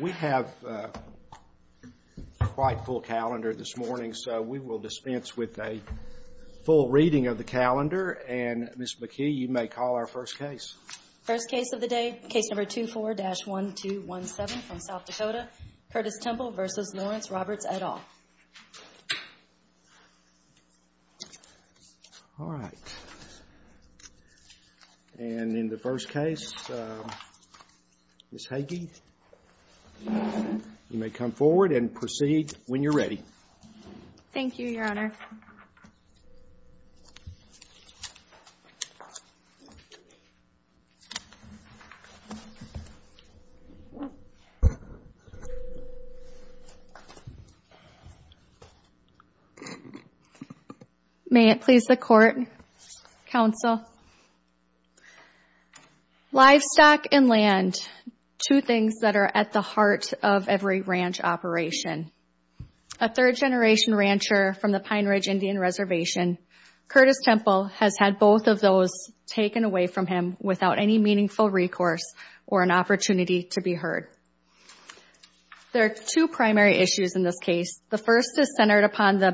We have a quite full calendar this morning, so we will dispense with a full reading of the calendar, and Ms. McKee, you may call our first case. First case of the day, case number 24-1217 from South Dakota, Curtis Temple v. Lawrence Ms. Hagee, you may come forward and proceed when you're ready. Thank you, Your Honor. May it please the Court, Counsel. Livestock and land, two things that are at the heart of every ranch operation. A third-generation rancher from the Pine Ridge Indian Reservation, Curtis Temple has had both of those taken away from him without any meaningful recourse or an opportunity to be heard. There are two primary issues in this case. The first is centered upon the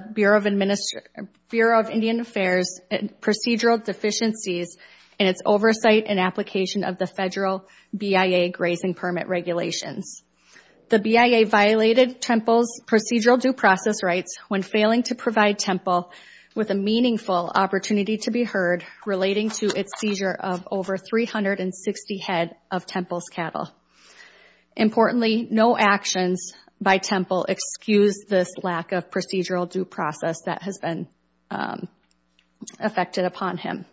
Bureau of Indian Affairs' procedural deficiencies in its oversight and application of the federal BIA grazing permit regulations. The BIA violated Temple's procedural due process rights when failing to provide Temple with a meaningful opportunity to be heard relating to its seizure of over 360 head of Temple's Importantly, no actions by Temple excuse this lack of procedural due process that has been affected upon him.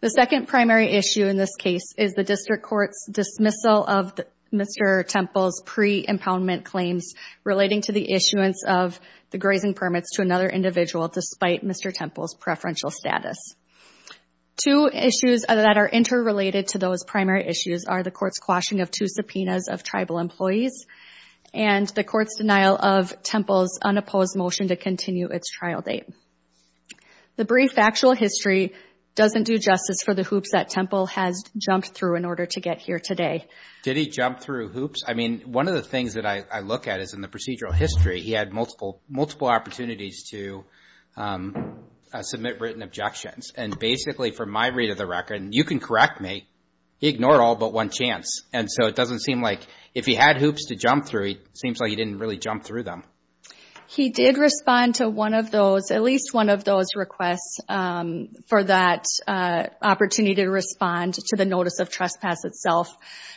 The second primary issue in this case is the district court's dismissal of Mr. Temple's pre-impoundment claims relating to the issuance of the grazing permits to another individual despite Mr. Temple's preferential status. Two issues that are interrelated to those primary issues are the court's quashing of two subpoenas of tribal employees and the court's denial of Temple's unopposed motion to continue its trial date. The brief factual history doesn't do justice for the hoops that Temple has jumped through in order to get here today. Did he jump through hoops? I mean, one of the things that I look at is in the procedural history, he had multiple opportunities to submit written objections. And basically, from my read of the record, and you can correct me, he ignored all but one chance. And so, it doesn't seem like if he had hoops to jump through, it seems like he didn't really jump through them. He did respond to one of those, at least one of those requests for that opportunity to respond to the notice of trespass itself.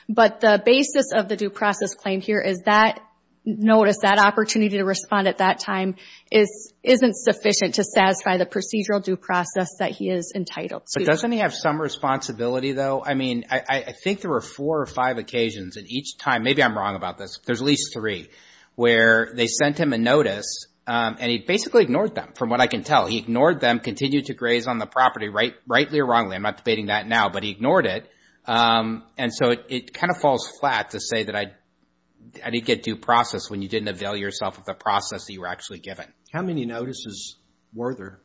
But the basis of the due process claim here is that notice, that opportunity to respond at that time isn't sufficient to satisfy the procedural due process that he is entitled to. But doesn't he have some responsibility, though? I mean, I think there were four or five occasions at each time, maybe I'm wrong about this, there's at least three, where they sent him a notice and he basically ignored them, from what I can tell. He ignored them, continued to graze on the property, rightly or wrongly, I'm not debating that now, but he ignored it. And so, it kind of falls flat to say that I didn't get due process when you didn't avail yourself of the process that you were actually given. How many notices were there?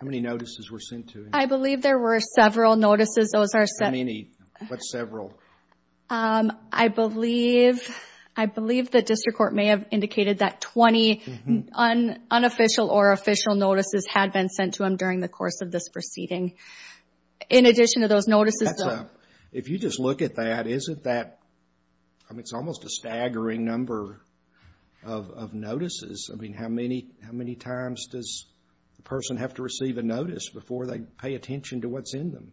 How many notices were sent to him? I believe there were several notices. Those are several. How many? What several? I believe, I believe the district court may have indicated that 20 unofficial or official notices had been sent to him during the course of this proceeding. In addition to those notices, though. If you just look at that, isn't that, I mean, it's almost a staggering number of notices. I mean, how many times does a person have to receive a notice before they pay attention to what's in them?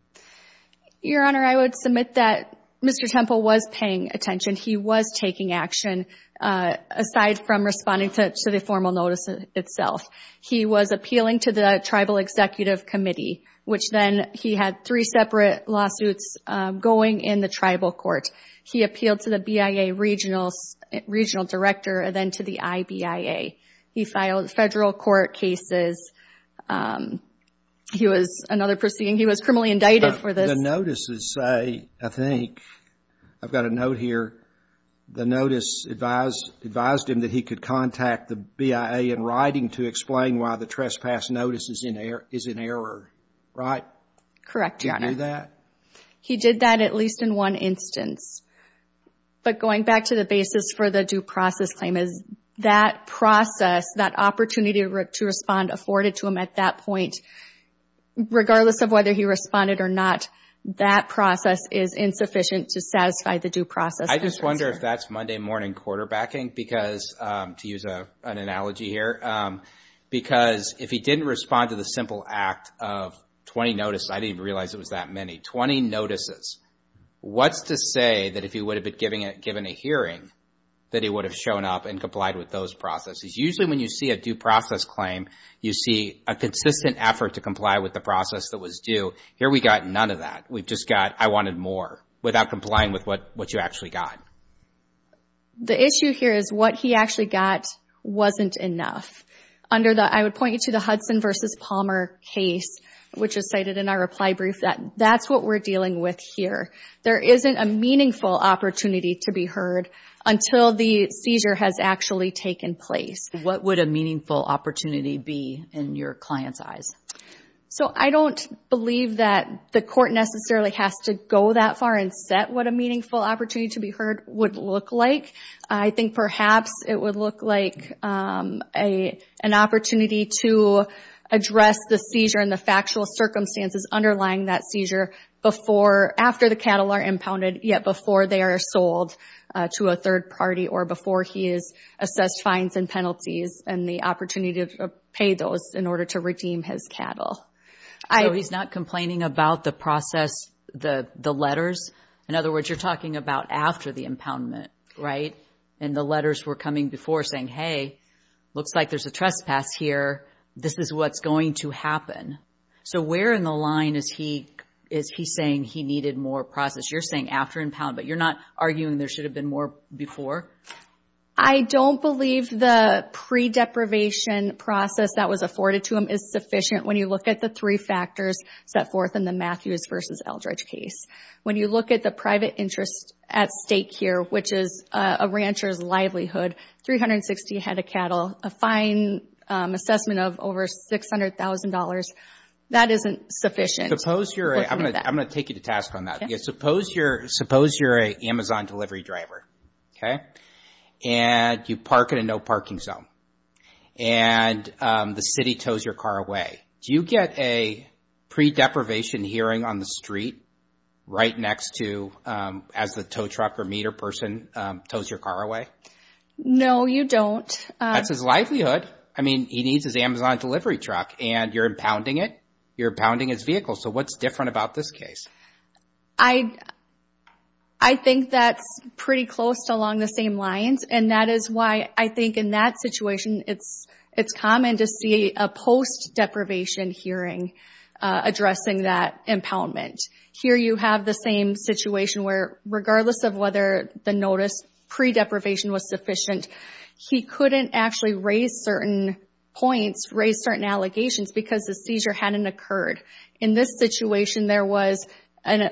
Your Honor, I would submit that Mr. Temple was paying attention. He was taking action, aside from responding to the formal notice itself. He was appealing to the Tribal Executive Committee, which then, he had three separate lawsuits going in the tribal court. He appealed to the BIA Regional Director, and then to the IBIA. He filed federal court cases. He was another proceeding. He was criminally indicted for this. The notices say, I think, I've got a note here, the notice advised him that he could contact the BIA in writing to explain why the trespass notice is in error, right? Correct, Your Honor. Did he do that? He did that at least in one instance. But going back to the basis for the due process claim, is that process, that opportunity to respond, afforded to him at that point, regardless of whether he responded or not, that process is insufficient to satisfy the due process. I just wonder if that's Monday morning quarterbacking, because, to use an analogy here, because if he didn't respond to the simple act of 20 notices, I didn't even realize it was that many, 20 notices, what's to say that if he would have been given a hearing, that he would have shown up and complied with those processes? Usually when you see a due process claim, you see a consistent effort to comply with the process that was due. Here we got none of that. We've just got, I wanted more, without complying with what you actually got. The issue here is what he actually got wasn't enough. Under the, I would point you to the Hudson versus Palmer case, which is cited in our reply brief, that's what we're dealing with here. There isn't a meaningful opportunity to be heard until the seizure has actually taken place. What would a meaningful opportunity be in your client's eyes? I don't believe that the court necessarily has to go that far and set what a meaningful opportunity to be heard would look like. I think perhaps it would look like an opportunity to address the seizure and the factual circumstances underlying that seizure after the cattle are impounded, yet before they are sold to a third party or before he is assessed fines and penalties and the opportunity to pay those in order to redeem his cattle. So he's not complaining about the process, the letters? In other words, you're talking about after the impoundment, right? And the letters were coming before saying, hey, looks like there's a trespass here. This is what's going to happen. So where in the line is he saying he needed more process? You're saying after impound, but you're not arguing there should have been more before? I don't believe the pre-deprivation process that was afforded to him is sufficient when you look at the three factors set forth in the Matthews versus Eldredge case. When you look at the private interest at stake here, which is a rancher's livelihood, 360 head of cattle, a fine assessment of over $600,000, that isn't sufficient. I'm going to take you to task on that. Suppose you're a Amazon delivery driver, and you park in a no-parking zone, and the city tows your car away. Do you get a pre-deprivation hearing on the street right next to as the tow truck or meter person tows your car away? No, you don't. That's his livelihood. I mean, he needs his Amazon delivery truck, and you're impounding it. You're impounding his vehicle. So what's different about this case? I think that's pretty close to along the same lines, and that is why I think in that situation, it's common to see a post-deprivation hearing addressing that impoundment. Here you have the same situation where regardless of whether the notice pre-deprivation was sufficient, he couldn't actually raise certain points, raise certain allegations because the seizure hadn't occurred. In this situation, there was an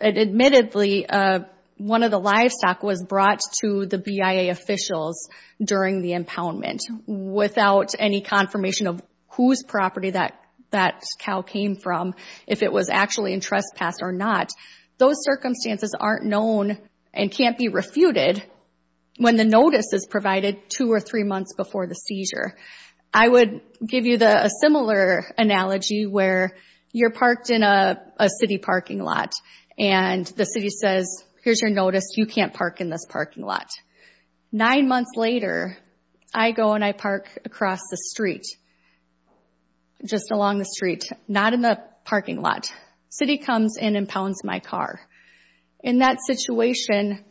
admittedly one of the livestock was brought to the BIA officials during the impoundment without any confirmation of whose property that cow came from, if it was actually in trespass or not. Those circumstances aren't known and can't be refuted when the notice is provided two or three months before the seizure. I would give you a similar analogy where you're parked in a city parking lot, and the city says, here's your notice. You can't park in this parking lot. Nine months later, I go and I park across the street, just along the street. Not in the parking lot. City comes and impounds my car. In that situation,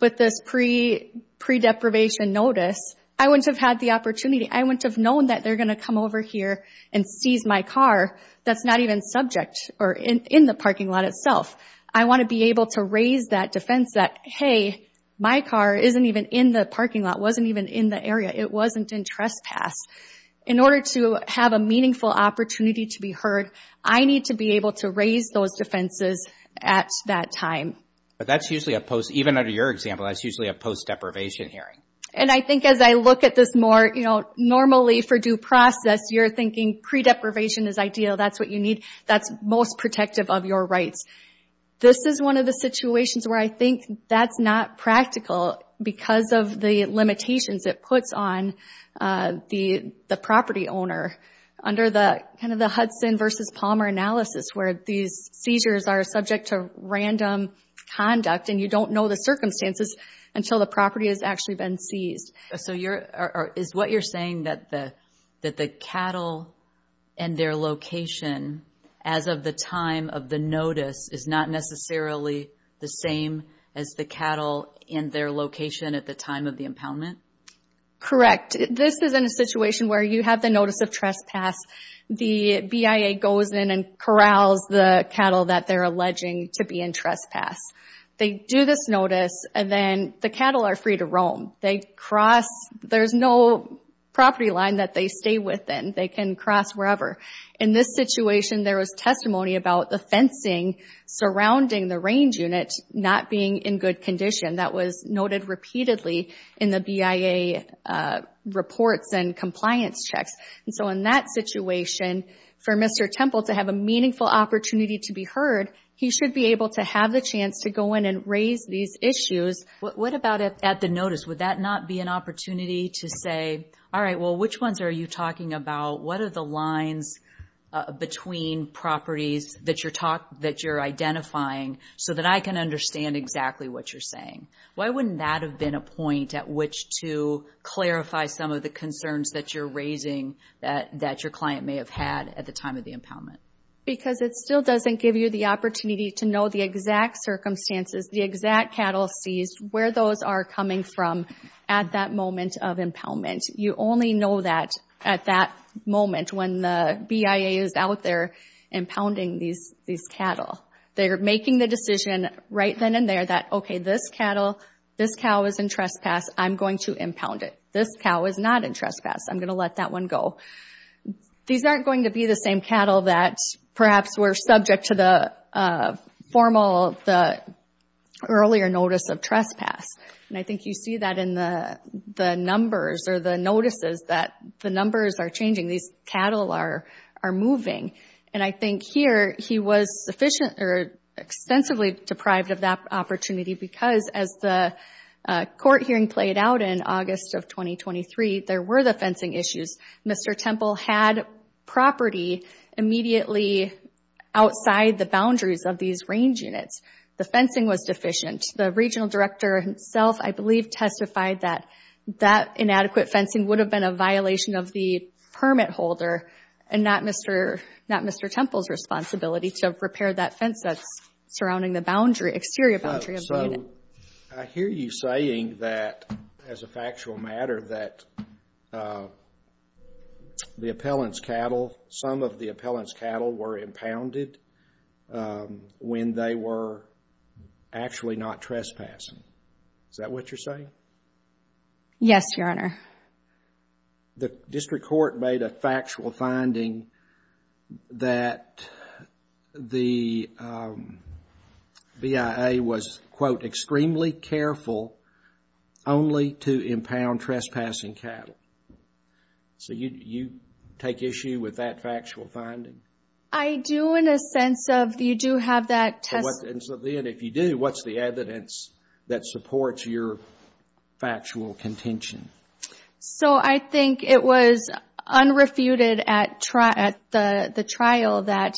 with this pre-deprivation notice, I wouldn't have had the opportunity. I wouldn't have known that they're going to come over here and seize my car that's not even subject or in the parking lot itself. I want to be able to raise that defense that, hey, my car isn't even in the parking lot, wasn't even in the area. It wasn't in trespass. In order to have a meaningful opportunity to be heard, I need to be able to raise those defenses at that time. That's usually a post, even under your example, that's usually a post-deprivation hearing. I think as I look at this more, normally for due process, you're thinking pre-deprivation is ideal. That's what you need. That's most protective of your rights. This is one of the situations where I think that's not practical because of the limitations it puts on the property owner under the Hudson versus Palmer analysis where these seizures are subject to random conduct and you don't know the circumstances until the property has actually been seized. Is what you're saying that the cattle and their location as of the time of the notice is not necessarily the same as the cattle and their location at the time of the impoundment? Correct. This is in a situation where you have the notice of trespass. The BIA goes in and corrals the cattle that they're alleging to be in trespass. They do this notice and then the cattle are free to roam. They cross. There's no property line that they stay within. They can cross wherever. In this situation, there was testimony about the fencing surrounding the range unit not being in good condition. That was noted repeatedly in the BIA reports and compliance checks. In that situation, for Mr. Temple to have a meaningful opportunity to be heard, he should be able to have the chance to go in and raise these issues. What about at the notice? Would that not be an opportunity to say, all right, well, which ones are you talking about? What are the lines between properties that you're identifying so that I can understand exactly what you're saying? Why wouldn't that have been a point at which to clarify some of the concerns that you're raising that your client may have had at the time of the impoundment? Because it still doesn't give you the opportunity to know the exact circumstances, the exact cattle seized, where those are coming from at that moment of impoundment. You only know that at that moment when the BIA is out there impounding these cattle. They're making the decision right then and there that, okay, this cattle, this cow is in trespass, I'm going to impound it. This cow is not in trespass, I'm going to let that one go. These aren't going to be the same cattle that perhaps were subject to the formal, the earlier notice of trespass. And I think you see that in the numbers or the notices that the numbers are changing. These cattle are moving. And I think here, he was sufficiently or extensively deprived of that opportunity because as the court hearing played out in August of 2023, there were the fencing issues. Mr. Temple had property immediately outside the boundaries of these range units. The fencing was deficient. The regional director himself, I believe, testified that that inadequate fencing would have been a violation of the permit holder and not Mr. Temple's responsibility to repair that fence that's surrounding the boundary, exterior boundary of the unit. I hear you saying that, as a factual matter, that the appellant's cattle, some of the appellant's not trespassing. Is that what you're saying? Yes, Your Honor. The district court made a factual finding that the BIA was, quote, extremely careful only to impound trespassing cattle. So you take issue with that factual finding? I do in a sense of, you do have that testimony. And so then, if you do, what's the evidence that supports your factual contention? So I think it was unrefuted at the trial that,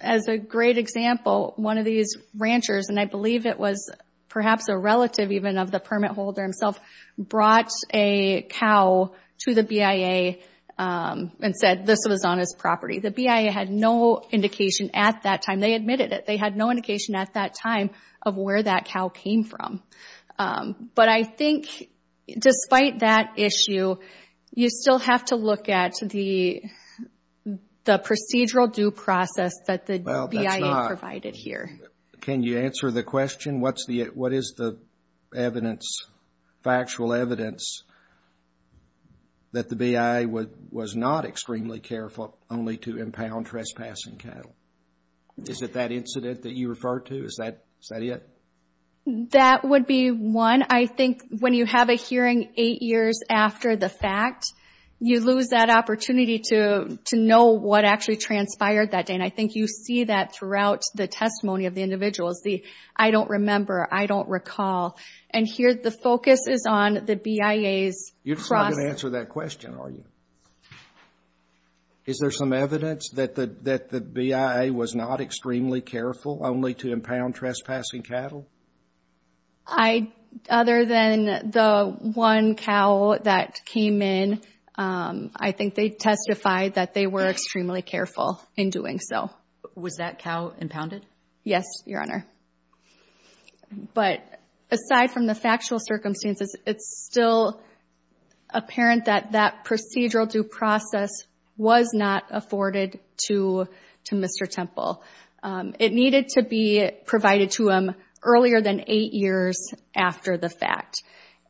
as a great example, one of these ranchers, and I believe it was perhaps a relative even of the permit holder himself, brought a cow to the BIA and said this was on his property. The BIA had no indication at that time. They admitted it. They had no indication at that time of where that cow came from. But I think, despite that issue, you still have to look at the procedural due process that the BIA provided here. Can you answer the question? What is the evidence, factual evidence, that the BIA was not extremely careful only to impound trespassing cattle? Is it that incident that you refer to? Is that it? That would be one. I think when you have a hearing eight years after the fact, you lose that opportunity to know what actually transpired that day. And I think you see that throughout the testimony of the individuals, the, I don't remember, I don't recall. And here, the focus is on the BIA's process. You're not going to answer that question, are you? Is there some evidence that the BIA was not extremely careful only to impound trespassing cattle? I, other than the one cow that came in, I think they testified that they were extremely careful in doing so. Was that cow impounded? Yes, Your Honor. But, aside from the factual circumstances, it's still apparent that that procedural due process was not afforded to Mr. Temple. It needed to be provided to him earlier than eight years after the fact.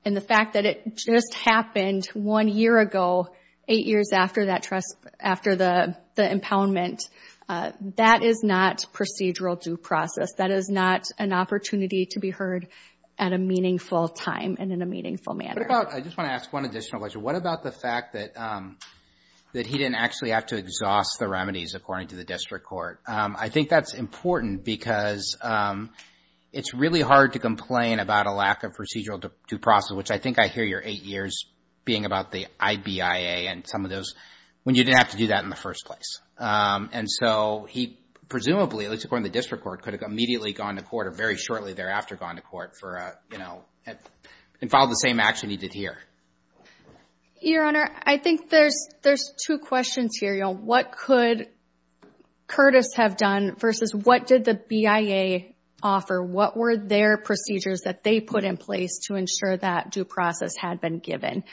And the fact that it just happened one year ago, eight years after the impoundment, that is not procedural due process. That is not an opportunity to be heard at a meaningful time and in a meaningful manner. What about, I just want to ask one additional question. What about the fact that he didn't actually have to exhaust the remedies according to the district court? I think that's important because it's really hard to complain about a lack of procedural due process, which I think I hear your eight years being about the IBIA and some of those, when you didn't have to do that in the first place. And so, he presumably, at least according to the district court, could have immediately gone to court or very shortly thereafter gone to court and filed the same action he did here. Your Honor, I think there's two questions here. What could Curtis have done versus what did the BIA offer? What were their procedures that they put in place to ensure that due process had been given?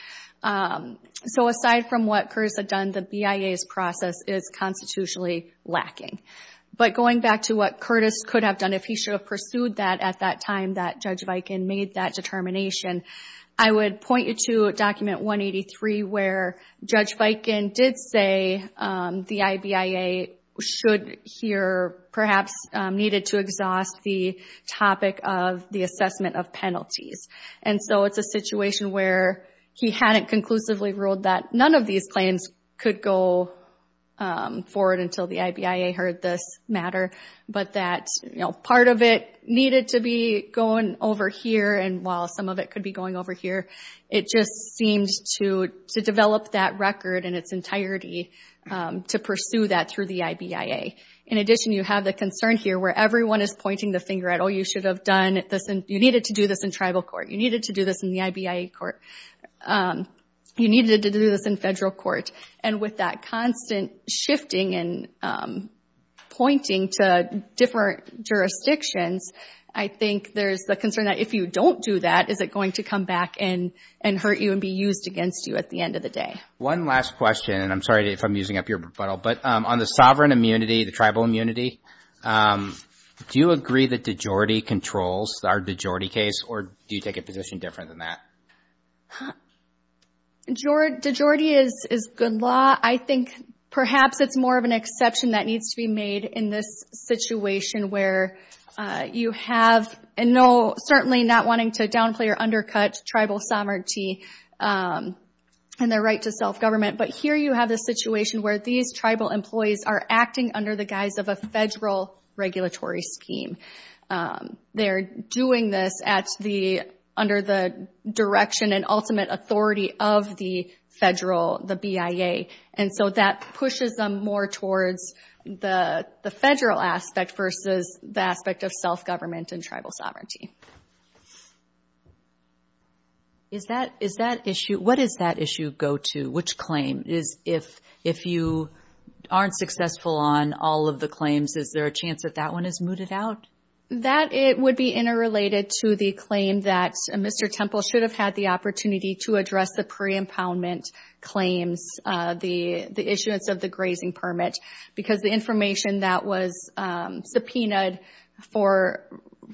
So, aside from what Curtis had done, the BIA's process is constitutionally lacking. But going back to what Curtis could have done if he should have pursued that at that time that Judge Viken made that determination, I would point you to document 183 where Judge Viken did say the IBIA should hear, perhaps needed to exhaust the topic of the assessment of penalties. And so, it's a situation where he hadn't conclusively ruled that none of these claims could go forward until the IBIA heard this matter. But that part of it needed to be going over here, and while some of it could be going over here, it just seemed to develop that record in its entirety to pursue that through the IBIA. In addition, you have the concern here where everyone is pointing the finger at, oh, you should have done this, and you needed to do this in tribal court. You needed to do this in the IBIA court. You needed to do this in federal court. And with that constant shifting and pointing to different jurisdictions, I think there's the concern that if you don't do that, is it going to come back and hurt you and be used against you at the end of the day? One last question, and I'm sorry if I'm using up your rebuttal, but on the sovereign immunity, the tribal immunity, do you agree that de jure-ty controls our de jure-ty case, or do you take a position different than that? De jure-ty is good law. I think perhaps it's more of an exception that needs to be made in this situation where you have, and certainly not wanting to downplay or undercut tribal sovereignty and their right to self-government, but here you have this situation where these tribal employees are acting under the guise of a federal regulatory scheme. They're doing this under the direction and ultimate authority of the federal, the BIA, and so that pushes them more towards the federal aspect versus the aspect of self-government and tribal sovereignty. Is that issue, what does that issue go to? Which claim is, if you aren't successful on all of the claims, is there a chance that that one is mooted out? That it would be interrelated to the claim that Mr. Temple should have had the opportunity to address the pre-impoundment claims, the issuance of the grazing permit, because the information that was subpoenaed for,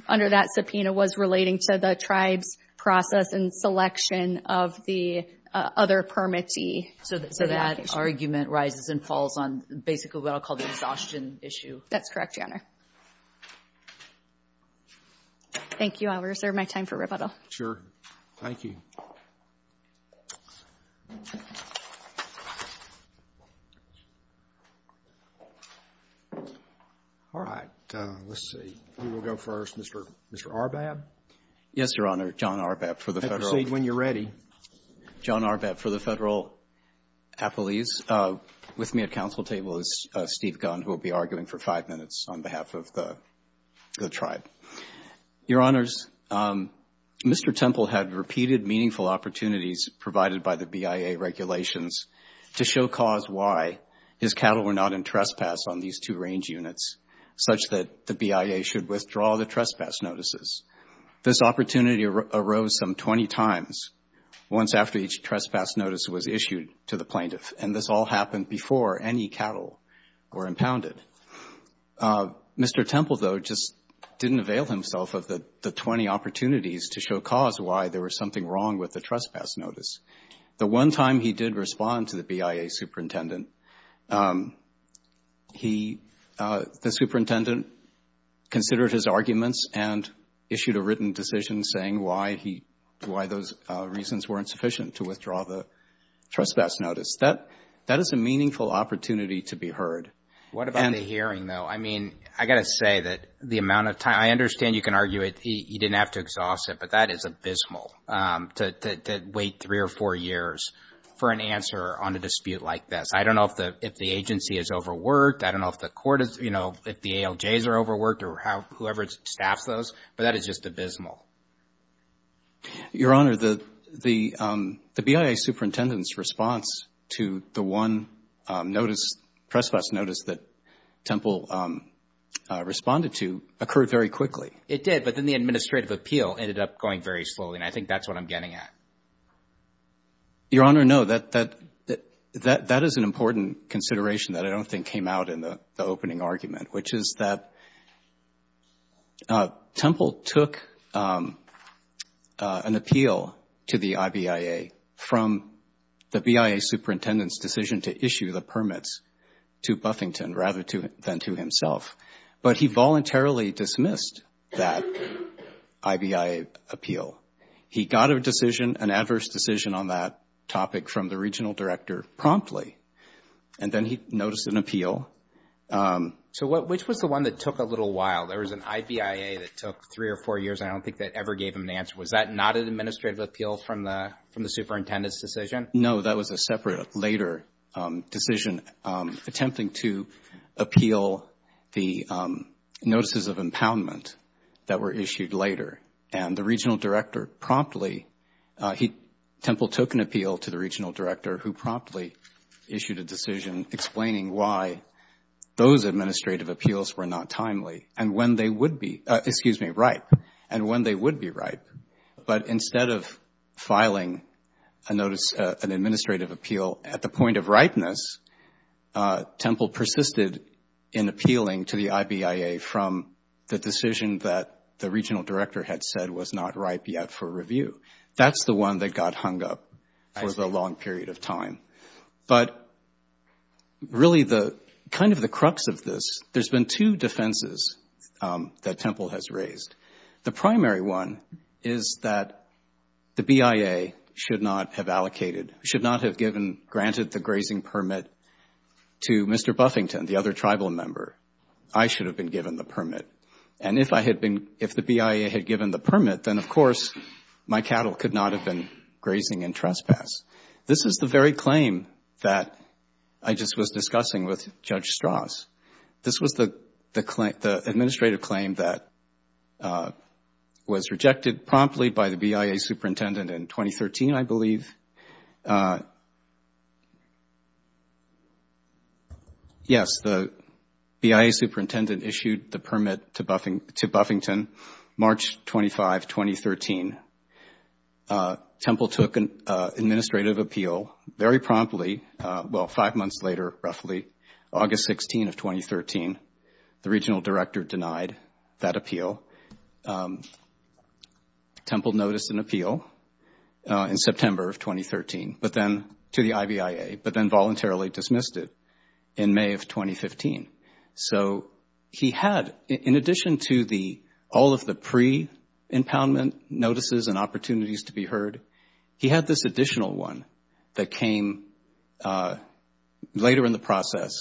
under that subpoena, was relating to the tribe's process and selection of the other permittee. So that argument rises and falls on basically what I'll call the exhaustion issue. That's correct, Your Honor. Thank you. I'll reserve my time for rebuttal. Sure. Thank you. All right. Let's see. Who will go first? Mr. Arbab? Yes, Your Honor. John Arbab for the Federal. Proceed when you're ready. John Arbab for the Federal Appellees. With me at council table is Steve Gund, who will be arguing for five minutes on behalf of the tribe. Your Honors, Mr. Temple had repeated meaningful opportunities provided by the BIA regulations to show cause why his cattle were not in trespass on these two range units, such that the BIA should withdraw the trespass notices. This opportunity arose some 20 times, once after each trespass notice was issued to the plaintiff, and this all happened before any cattle were impounded. Mr. Temple, though, just didn't avail himself of the 20 opportunities to show cause why there was something wrong with the trespass notice. The one time he did respond to the BIA superintendent, the superintendent considered his arguments and issued a written decision saying why those reasons weren't sufficient to withdraw the trespass notice. That is a meaningful opportunity to be heard. What about the hearing, though? I mean, I got to say that the amount of time, I understand you can argue he didn't have to exhaust it, but that is abysmal to wait three or four years for an answer on a dispute like this. I don't know if the agency is overworked. I don't know if the court is, you know, if the ALJs are overworked or whoever staffs those, but that is just abysmal. Your Honor, the BIA superintendent's response to the one notice, trespass notice that Temple responded to occurred very quickly. It did, but then the administrative appeal ended up going very slowly, and I think that's what I'm getting at. Your Honor, no, that is an important consideration that I don't think came out in the opening argument, which is that Temple took an appeal to the IBIA from the BIA superintendent's decision to issue the permits to Buffington rather than to himself, but he voluntarily dismissed that IBIA appeal. He got a decision, an adverse decision on that topic from the regional director promptly, and then he noticed an appeal. So, which was the one that took a little while? There was an IBIA that took three or four years. I don't think that ever gave him an answer. Was that not an administrative appeal from the superintendent's decision? No, that was a separate later decision attempting to appeal the notices of impoundment that were issued later, and the regional director promptly, Temple took an appeal to the regional director who promptly issued a decision explaining why those administrative appeals were not timely and when they would be, excuse me, ripe, and when they would be ripe. But instead of filing a notice, an administrative appeal at the point of ripeness, Temple persisted in appealing to the IBIA from the decision that the regional director had said was not ripe yet for review. That's the one that got hung up for the long period of time. But really the, kind of the crux of this, there's been two defenses that Temple has raised. The primary one is that the BIA should not have allocated, should not have given, granted the grazing permit to Mr. Buffington, the other tribal member. I should have been given the permit, and if I had been, if the BIA had given the permit, then, of course, my cattle could not have been grazing in trespass. This is the very claim that I just was discussing with Judge Strauss. This was the administrative claim that was rejected promptly by the BIA superintendent in 2013, I believe. Yes, the BIA superintendent issued the permit to Buffington March 25, 2013. Temple took an administrative appeal very promptly, well, five months later, roughly, August 16 of 2013. The regional director denied that appeal. Temple noticed an appeal in September of 2013, but then, to the IBIA, but then voluntarily dismissed it in May of 2015. So he had, in addition to all of the pre-impoundment notices and opportunities to be heard, he had this additional one that came later in the process,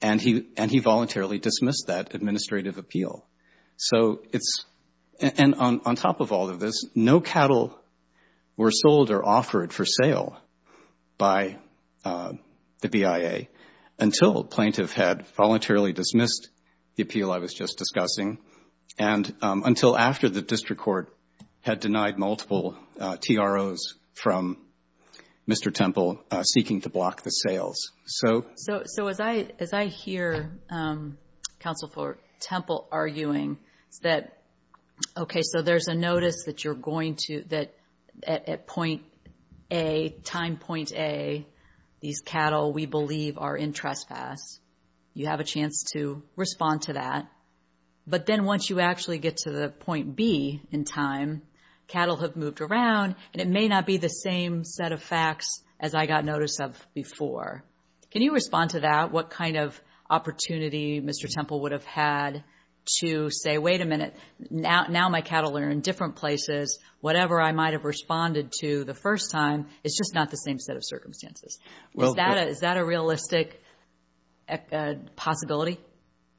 and he voluntarily dismissed that administrative appeal. On top of all of this, no cattle were sold or offered for sale by the BIA until the plaintiff had voluntarily dismissed the appeal I was just discussing, and until after the district court had denied multiple TROs from Mr. Temple seeking to block the sales. So as I hear Counsel for Temple arguing that, okay, so there's a notice that you're going to, that at point A, time point A, these cattle we believe are in trespass. You have a chance to respond to that, but then once you actually get to the point B in time, cattle have moved around, and it may not be the same set of facts as I got notice of before. Can you respond to that, what kind of opportunity Mr. Temple would have had to say, wait a minute, now my cattle are in different places, whatever I might have responded to the first time, it's just not the same set of circumstances. Is that a realistic possibility?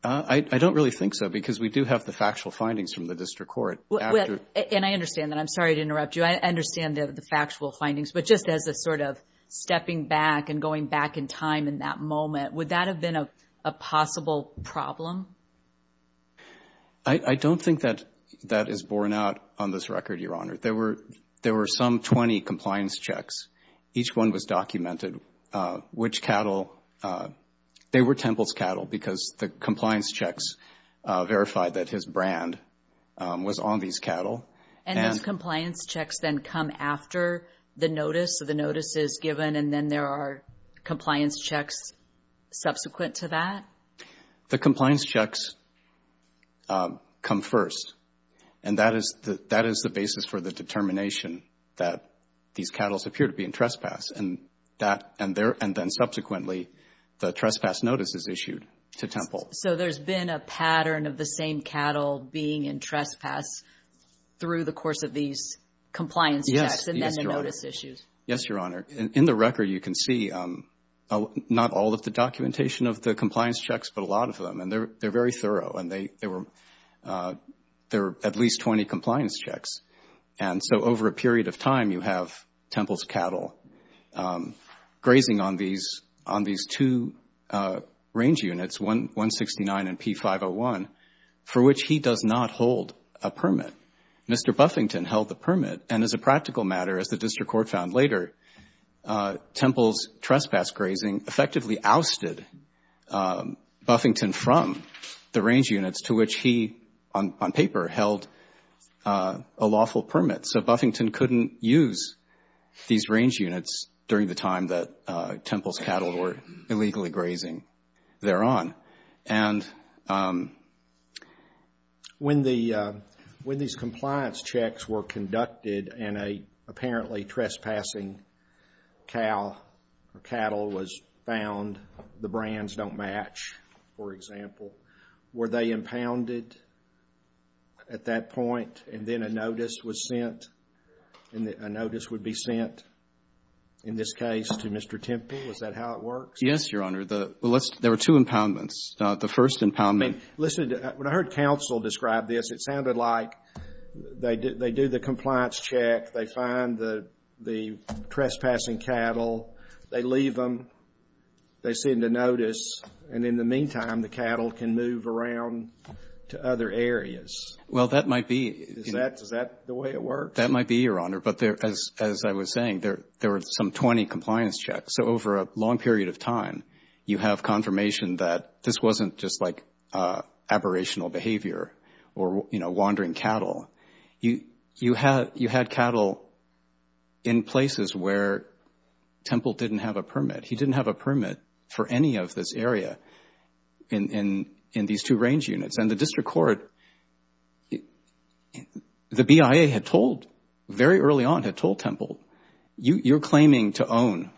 I don't really think so, because we do have the factual findings from the district court. And I understand that, I'm sorry to interrupt you, I understand the factual findings, but just as a sort of stepping back and going back in time in that moment, would that have been a possible problem? I don't think that that is borne out on this record, Your Honor. There were some 20 compliance checks, each one was documented, which cattle, they were Temple's cattle, because the compliance checks verified that his brand was on these cattle. And those compliance checks then come after the notice, so the notice is given and then there are compliance checks subsequent to that? The compliance checks come first. And that is the basis for the determination that these cattle appear to be in trespass. And then subsequently the trespass notice is issued to Temple. So there's been a pattern of the same cattle being in trespass through the course of these compliance checks and then the notice issues? Yes, Your Honor. In the record you can see not all of the documentation of the compliance checks, but a lot of them, and they're very thorough. And there were at least 20 compliance checks. And so over a period of time you have Temple's cattle grazing on these two range units, 169 and P501, for which he does not hold a permit. Mr. Buffington held the permit, and as a practical matter, as the district court found later, Temple's trespass grazing effectively ousted Buffington from the range units to which he, on paper, held a lawful permit. So Buffington couldn't use these range units during the time that Temple's cattle were illegally grazing thereon. And when these compliance checks were conducted and an apparently trespassing cow or cattle was found, the brands don't match, for example, were they impounded at that point and then a notice was sent, and a notice would be sent in this case to Mr. Temple? Is that how it works? Yes, Your Honor. There were two impoundments. The first impoundment. Listen, when I heard counsel describe this, it sounded like they do the compliance check, they find the trespassing cattle, they leave them, they send a notice, and in the meantime, the cattle can move around to other areas. Well, that might be. Is that the way it works? That might be, Your Honor. But as I was saying, there were some 20 compliance checks. So over a long period of time, you have confirmation that this wasn't just like aberrational behavior or, you know, wandering cattle. Mr. Temple didn't have a permit. He didn't have a permit for any of this area in these two range units. And the district court, the BIA had told, very early on had told Temple, you're claiming to own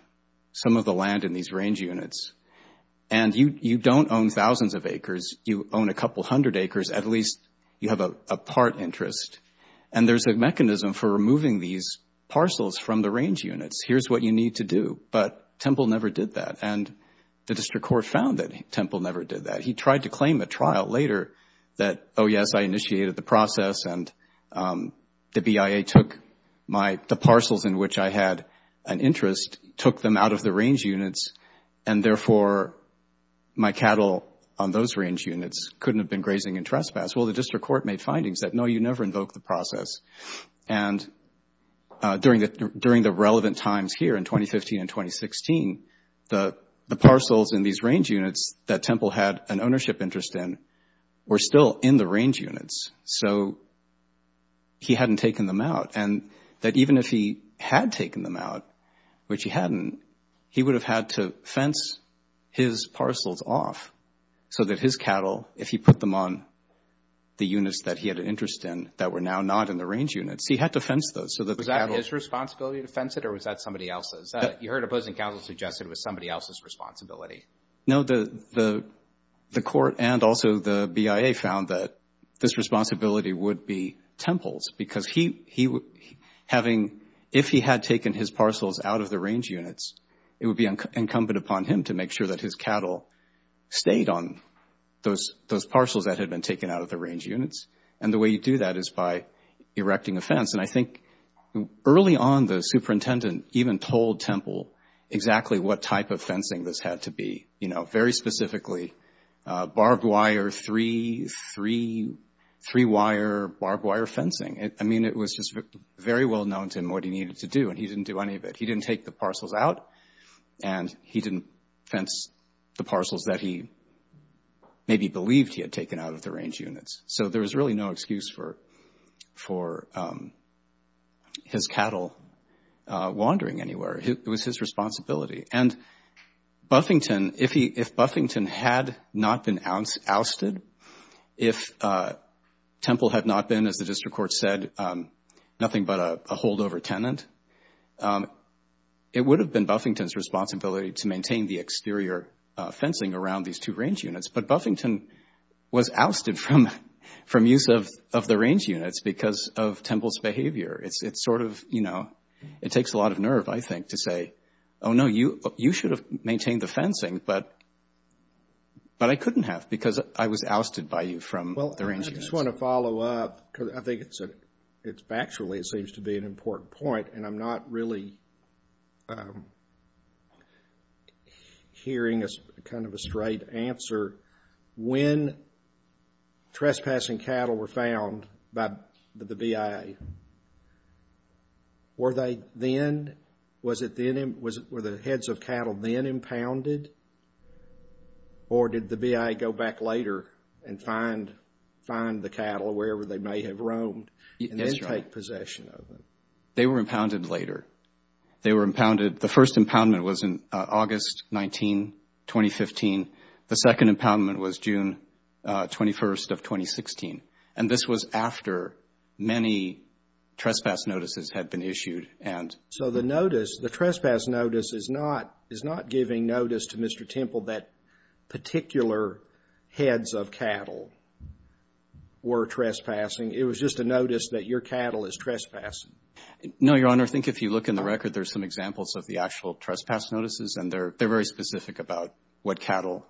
some of the land in these range units, and you don't own thousands of acres, you own a couple hundred acres, at least you have a part interest. And there's a mechanism for removing these parcels from the range units. Here's what you need to do. But Temple never did that. And the district court found that Temple never did that. He tried to claim at trial later that, oh, yes, I initiated the process, and the BIA took the parcels in which I had an interest, took them out of the range units, and therefore my cattle on those range units couldn't have been grazing in trespass. Well, the district court made findings that, no, you never invoke the process. And during the relevant times here in 2015 and 2016, the parcels in these range units that Temple had an ownership interest in were still in the range units. So he hadn't taken them out. And that even if he had taken them out, which he hadn't, he would have had to fence his parcels off so that his cattle, if he put them on the units that he had an interest in that were now not in the range units, he had to fence those. Was that his responsibility to fence it, or was that somebody else's? You heard opposing counsel suggested it was somebody else's responsibility. No, the court and also the BIA found that this responsibility would be Temple's, because if he had taken his parcels out of the range units, it would be incumbent upon him to make sure that his cattle stayed on those parcels that had been taken out of the range units. And the way you do that is by erecting a fence. And I think early on, the superintendent even told Temple exactly what type of fencing this had to be. Very specifically, barbed wire, three-wire barbed wire fencing. I mean, it was just very well known to him what he needed to do, and he didn't do any of it. He didn't take the parcels out, and he didn't fence the parcels that he maybe believed he had taken out of the range units. There was really no excuse for his cattle wandering anywhere. It was his responsibility. And if Buffington had not been ousted, if Temple had not been, as the district court said, nothing but a holdover tenant, it would have been Buffington's responsibility to maintain the exterior fencing around these two range units. But Buffington was ousted from use of the range units because of Temple's behavior. It's sort of, you know, it takes a lot of nerve, I think, to say, oh, no, you should have maintained the fencing, but I couldn't have because I was ousted by you from the range units. Well, I just want to follow up, because I think it's actually, it seems to be an important point, and I'm not really hearing kind of a straight answer. When trespassing cattle were found by the BIA, were they then, was it then, were the heads of cattle then impounded? Or did the BIA go back later and find the cattle wherever they may have roamed and then take possession of them? They were impounded later. They were impounded, the first impoundment was in August 19, 2015. The second impoundment was June 21 of 2016. And this was after many trespass notices had been issued. So the notice, the trespass notice is not giving notice to Mr. Temple that particular heads of cattle were trespassing. It was just a notice that your cattle is trespassing. No, Your Honor, I think if you look in the record, there's some examples of the actual trespass notices, and they're very specific about what cattle,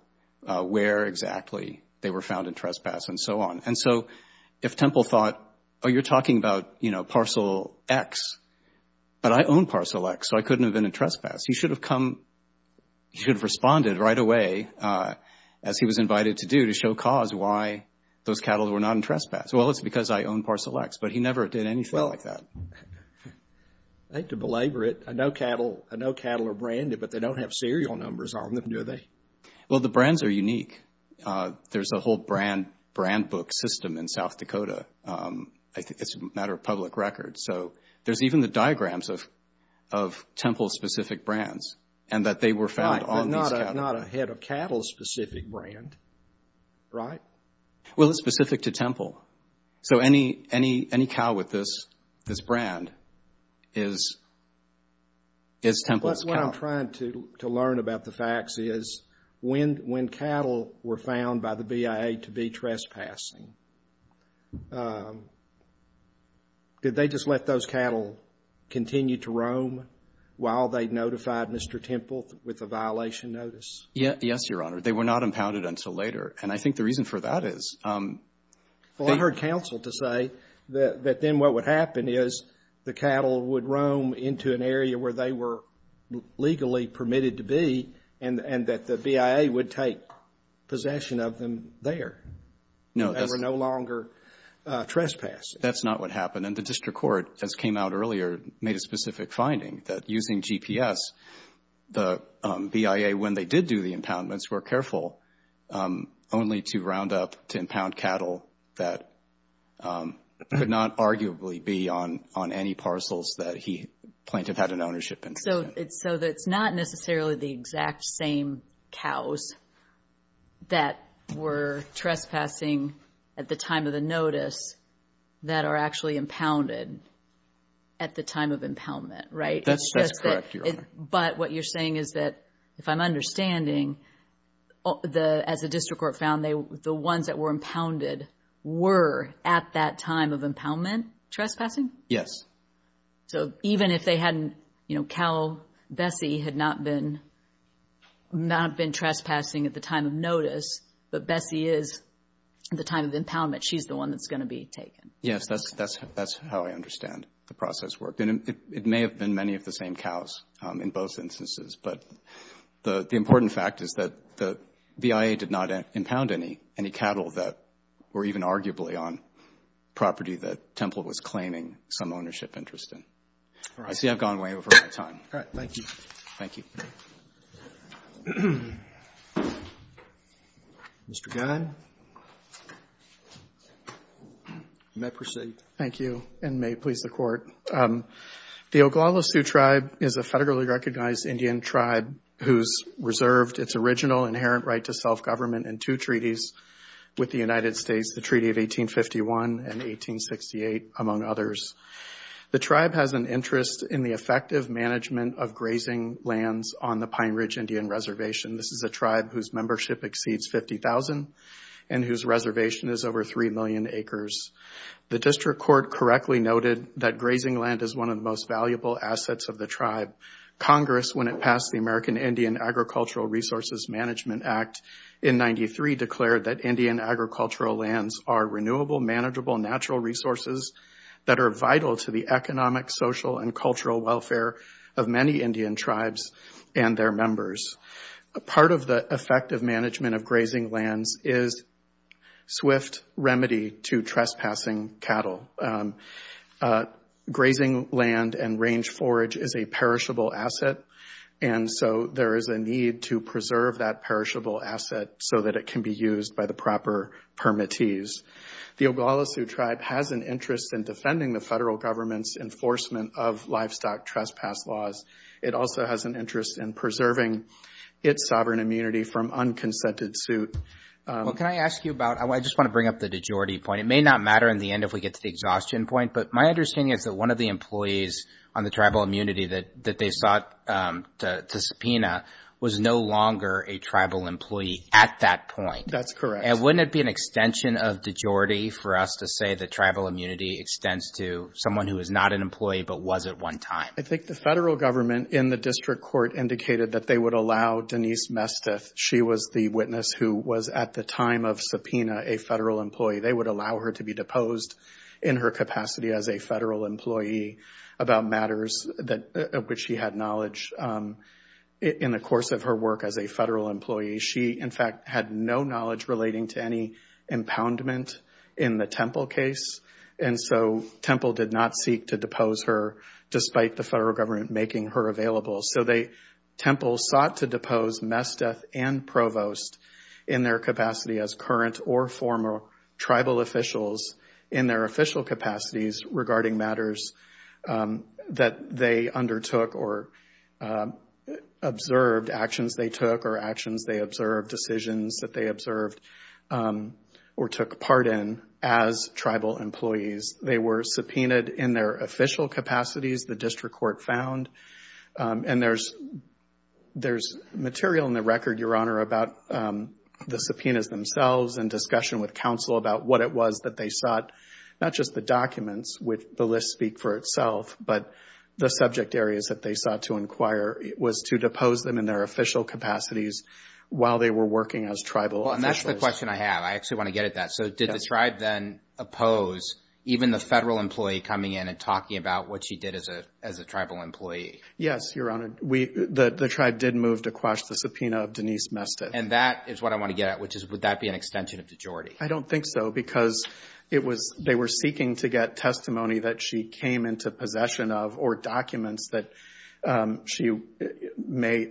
where exactly they were found in trespass and so on. And so if Temple thought, oh, you're talking about, you know, Parcel X, but I own Parcel X, so I couldn't have been in trespass, he should have come, he should have responded right away, as he was invited to do, to show cause why those cattle were not in trespass. Well, it's because I own Parcel X, but he never did anything like that. I hate to belabor it, I know cattle are branded, but they don't have serial numbers on them, do they? Well, the brands are unique. There's a whole brand book system in South Dakota. I think it's a matter of public record, so there's even the diagrams of Temple-specific brands, and that they were found on these cattle. Right, but not a head of cattle-specific brand, right? Well, it's specific to Temple, so any cow with this brand is Temple's cow. What I'm trying to learn about the facts is when cattle were found by the BIA to be trespassing, did they just let those cattle continue to roam while they notified Mr. Temple with a violation notice? Yes, Your Honor, they were not impounded until later, and I think the reason for that is they Well, I heard counsel to say that then what would happen is the cattle would roam into an area where they were legally permitted to be, and that the BIA would take possession of them there. And they were no longer trespassing. That's not what happened, and the district court, as came out earlier, made a specific finding that using GPS, the BIA, when they did do the impoundments, were careful only to round up to impound cattle that could not arguably be on any parcels that the plaintiff had an ownership in. So it's not necessarily the exact same cows that were trespassing, at the time of the notice, that are actually impounded at the time of impoundment, right? That's correct, Your Honor. But what you're saying is that, if I'm understanding, as the district court found, the ones that were impounded were at that time of impoundment trespassing? Yes. So even if they hadn't, you know, cow Bessie had not been trespassing at the time of notice, but Bessie is at the time of impoundment. She's the one that's going to be taken. Yes, that's how I understand the process worked. And it may have been many of the same cows in both instances. But the important fact is that the BIA did not impound any cattle that were even arguably on property that Temple was claiming some ownership interest in. I see I've gone way over my time. Mr. Gunn. Thank you, and may it please the Court. This is a tribe whose reserved its original inherent right to self-government in two treaties with the United States, the Treaty of 1851 and 1868, among others. The tribe has an interest in the effective management of grazing lands on the Pine Ridge Indian Reservation. This is a tribe whose membership exceeds 50,000 and whose reservation is over 3 million acres. The district court correctly noted that grazing land is one of the most valuable assets of the tribe. Congress, when it passed the American Indian Agricultural Resources Management Act in 1993, declared that Indian agricultural lands are renewable, manageable natural resources that are vital to the economic, social, and cultural welfare of many Indian tribes and their members. Part of the effective management of grazing lands is swift remedy to trespassing cattle. Grazing land and range forage is a perishable asset, and so there is a need to preserve that perishable asset so that it can be used by the proper permittees. The Oglala Sioux Tribe has an interest in defending the federal government's enforcement of livestock trespass laws. It also has an interest in preserving its sovereign immunity from unconsented suit. Well, can I ask you about, I just want to bring up the de jure point. It may not matter in the end if we get to the exhaustion point, but my understanding is that one of the employees on the tribal immunity that they sought to subpoena was no longer a tribal employee at that point. That's correct. And wouldn't it be an extension of de jure for us to say that tribal immunity extends to someone who is not an employee but was at one time? I think the federal government in the district court indicated that they would allow Denise Mesteth, she was the witness who was at the time of subpoena a federal employee, they would allow her to be deposed in her capacity as a federal employee about matters of which she had knowledge in the course of her work as a federal employee. She, in fact, had no knowledge relating to any impoundment in the Temple case, and so Temple did not seek to depose her despite the federal government making her available. So Temple sought to depose Mesteth and Provost in their capacity as current or former tribal officials in their official capacities regarding matters that they undertook or observed, actions they took or actions they observed, decisions that they observed, or took part in as tribal employees. They were subpoenaed in their official capacities, the district court found, and there's material in the record, Your Honor, about the subpoenas themselves and discussion with counsel about what it was that they sought, not just the documents, which the list speak for itself, but the subject areas that they sought to inquire, was to depose them in their official capacities while they were working as tribal officials. That's the question I have. I actually want to get at that. So did the tribe then oppose even the federal employee coming in and talking about what she did as a tribal employee? Yes, Your Honor. The tribe did move to quash the subpoena of Denise Mesteth. And that is what I want to get at, which is would that be an extension of dejority? I don't think so, because they were seeking to get testimony that she came into possession of or documents that she may,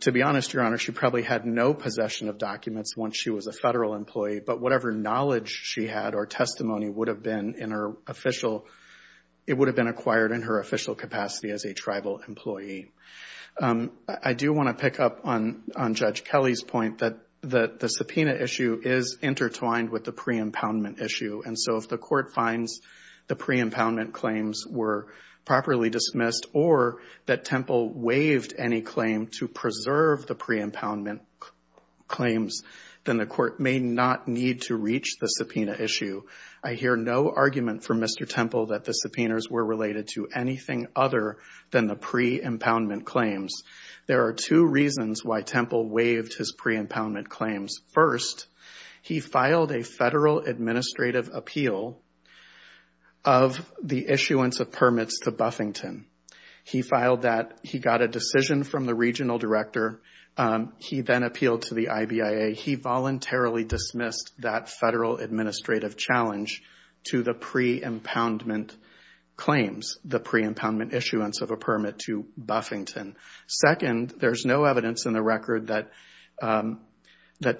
to be honest, Your Honor, she probably had no possession of documents once she was a federal employee, but whatever knowledge she had or testimony would have been in her official, it would have been acquired in her official capacity as a tribal employee. I do want to pick up on Judge Kelly's point that the subpoena issue is intertwined with the pre-impoundment issue. And so if the court finds the pre-impoundment claims were properly dismissed, or that Temple waived any claim to preserve the pre-impoundment claims, then the court may not need to reach the subpoena issue. I hear no argument from Mr. Temple that the subpoenas were related to anything other than the pre-impoundment claims. There are two reasons why Temple waived his pre-impoundment claims. First, he filed a federal administrative appeal of the issuance of permits to Buffington. He filed that, he got a decision from the regional director, he then appealed to the IBIA. He voluntarily dismissed that federal administrative challenge to the pre-impoundment claims, the pre-impoundment issuance of a permit to Buffington. Second, there's no evidence in the record that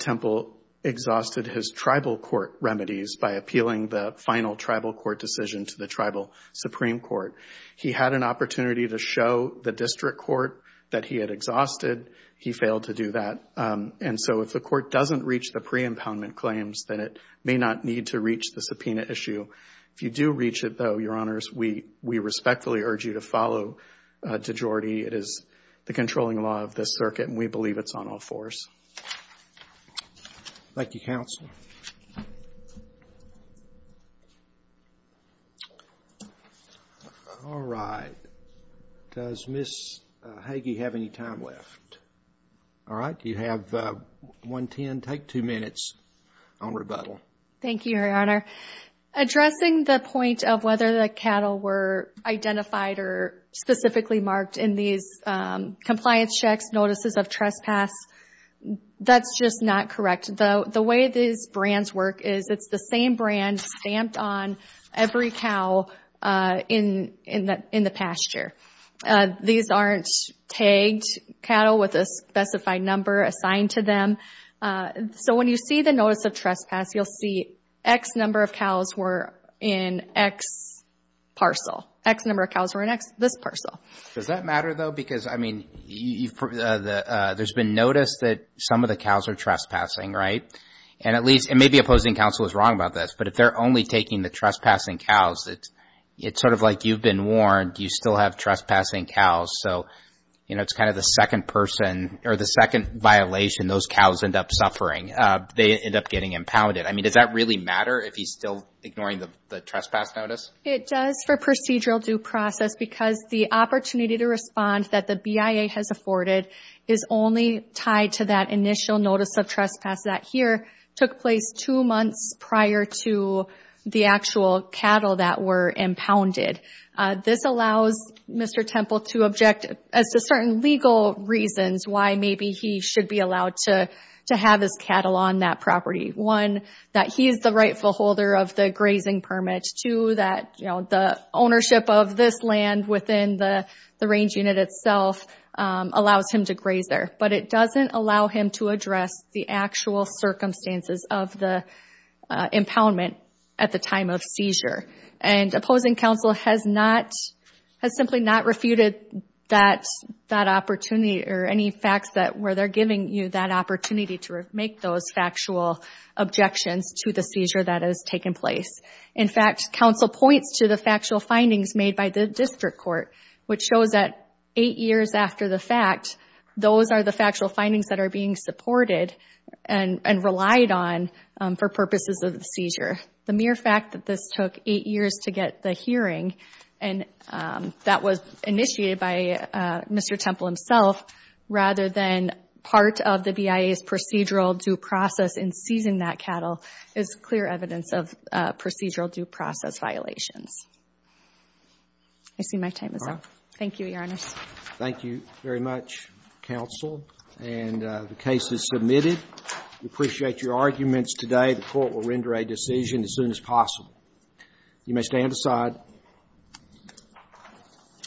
Temple exhausted his tribal court remedies by appealing the final tribal court decision to the tribal Supreme Court. He had an opportunity to show the district court that he had exhausted. He failed to do that. And so if the court doesn't reach the pre-impoundment claims, then it may not need to reach the subpoena issue. If you do reach it, though, Your Honors, we respectfully urge you to follow de jure. It is the controlling law of this circuit, and we believe it's on all fours. All right, does Ms. Hagee have any time left? All right, you have one ten, take two minutes on rebuttal. Thank you, Your Honor. Addressing the point of whether the cattle were identified or specifically marked in these compliance checks, notices of trespass, that's just not correct. The way these brands work is it's the same brand stamped on every cow in the pasture. These aren't tagged cattle with a specified number assigned to them. So when you see the notice of trespass, you'll see X number of cows were in X parcel. X number of cows were in this parcel. Does that matter, though? Because, I mean, there's been notice that some of the cows are trespassing, right? And maybe opposing counsel is wrong about this, but if they're only taking the trespassing cows, it's sort of like you've been warned, you still have trespassing cows. So it's kind of the second person or the second violation those cows end up suffering. They end up getting impounded. I mean, does that really matter if he's still ignoring the trespass notice? It does for procedural due process because the opportunity to respond that the BIA has afforded is only tied to that initial notice of trespass that here took place two months prior to the actual cattle that were impounded. This allows Mr. Temple to object as to certain legal reasons why maybe he should be allowed to have his cattle on that property. One, that he is the rightful holder of the grazing permit. Two, that the ownership of this land within the range unit itself allows him to graze there. But it doesn't allow him to address the actual circumstances of the impoundment at the time of seizure. And opposing counsel has simply not refuted that opportunity or any facts where they're giving you that opportunity to make those factual objections to the seizure that has taken place. In fact, counsel points to the factual findings made by the district court, which shows that eight years after the fact, those are the factual findings that are being supported and relied on for purposes of the seizure. The mere fact that this took eight years to get the hearing and that was initiated by Mr. Temple himself rather than part of the BIA's procedural due process in seizing that cattle is clear evidence of procedural due process violations. I see my time is up. Thank you, Your Honor. Thank you very much, counsel. And the case is submitted. We appreciate your arguments today. The Court will render a decision as soon as possible. You may stand aside.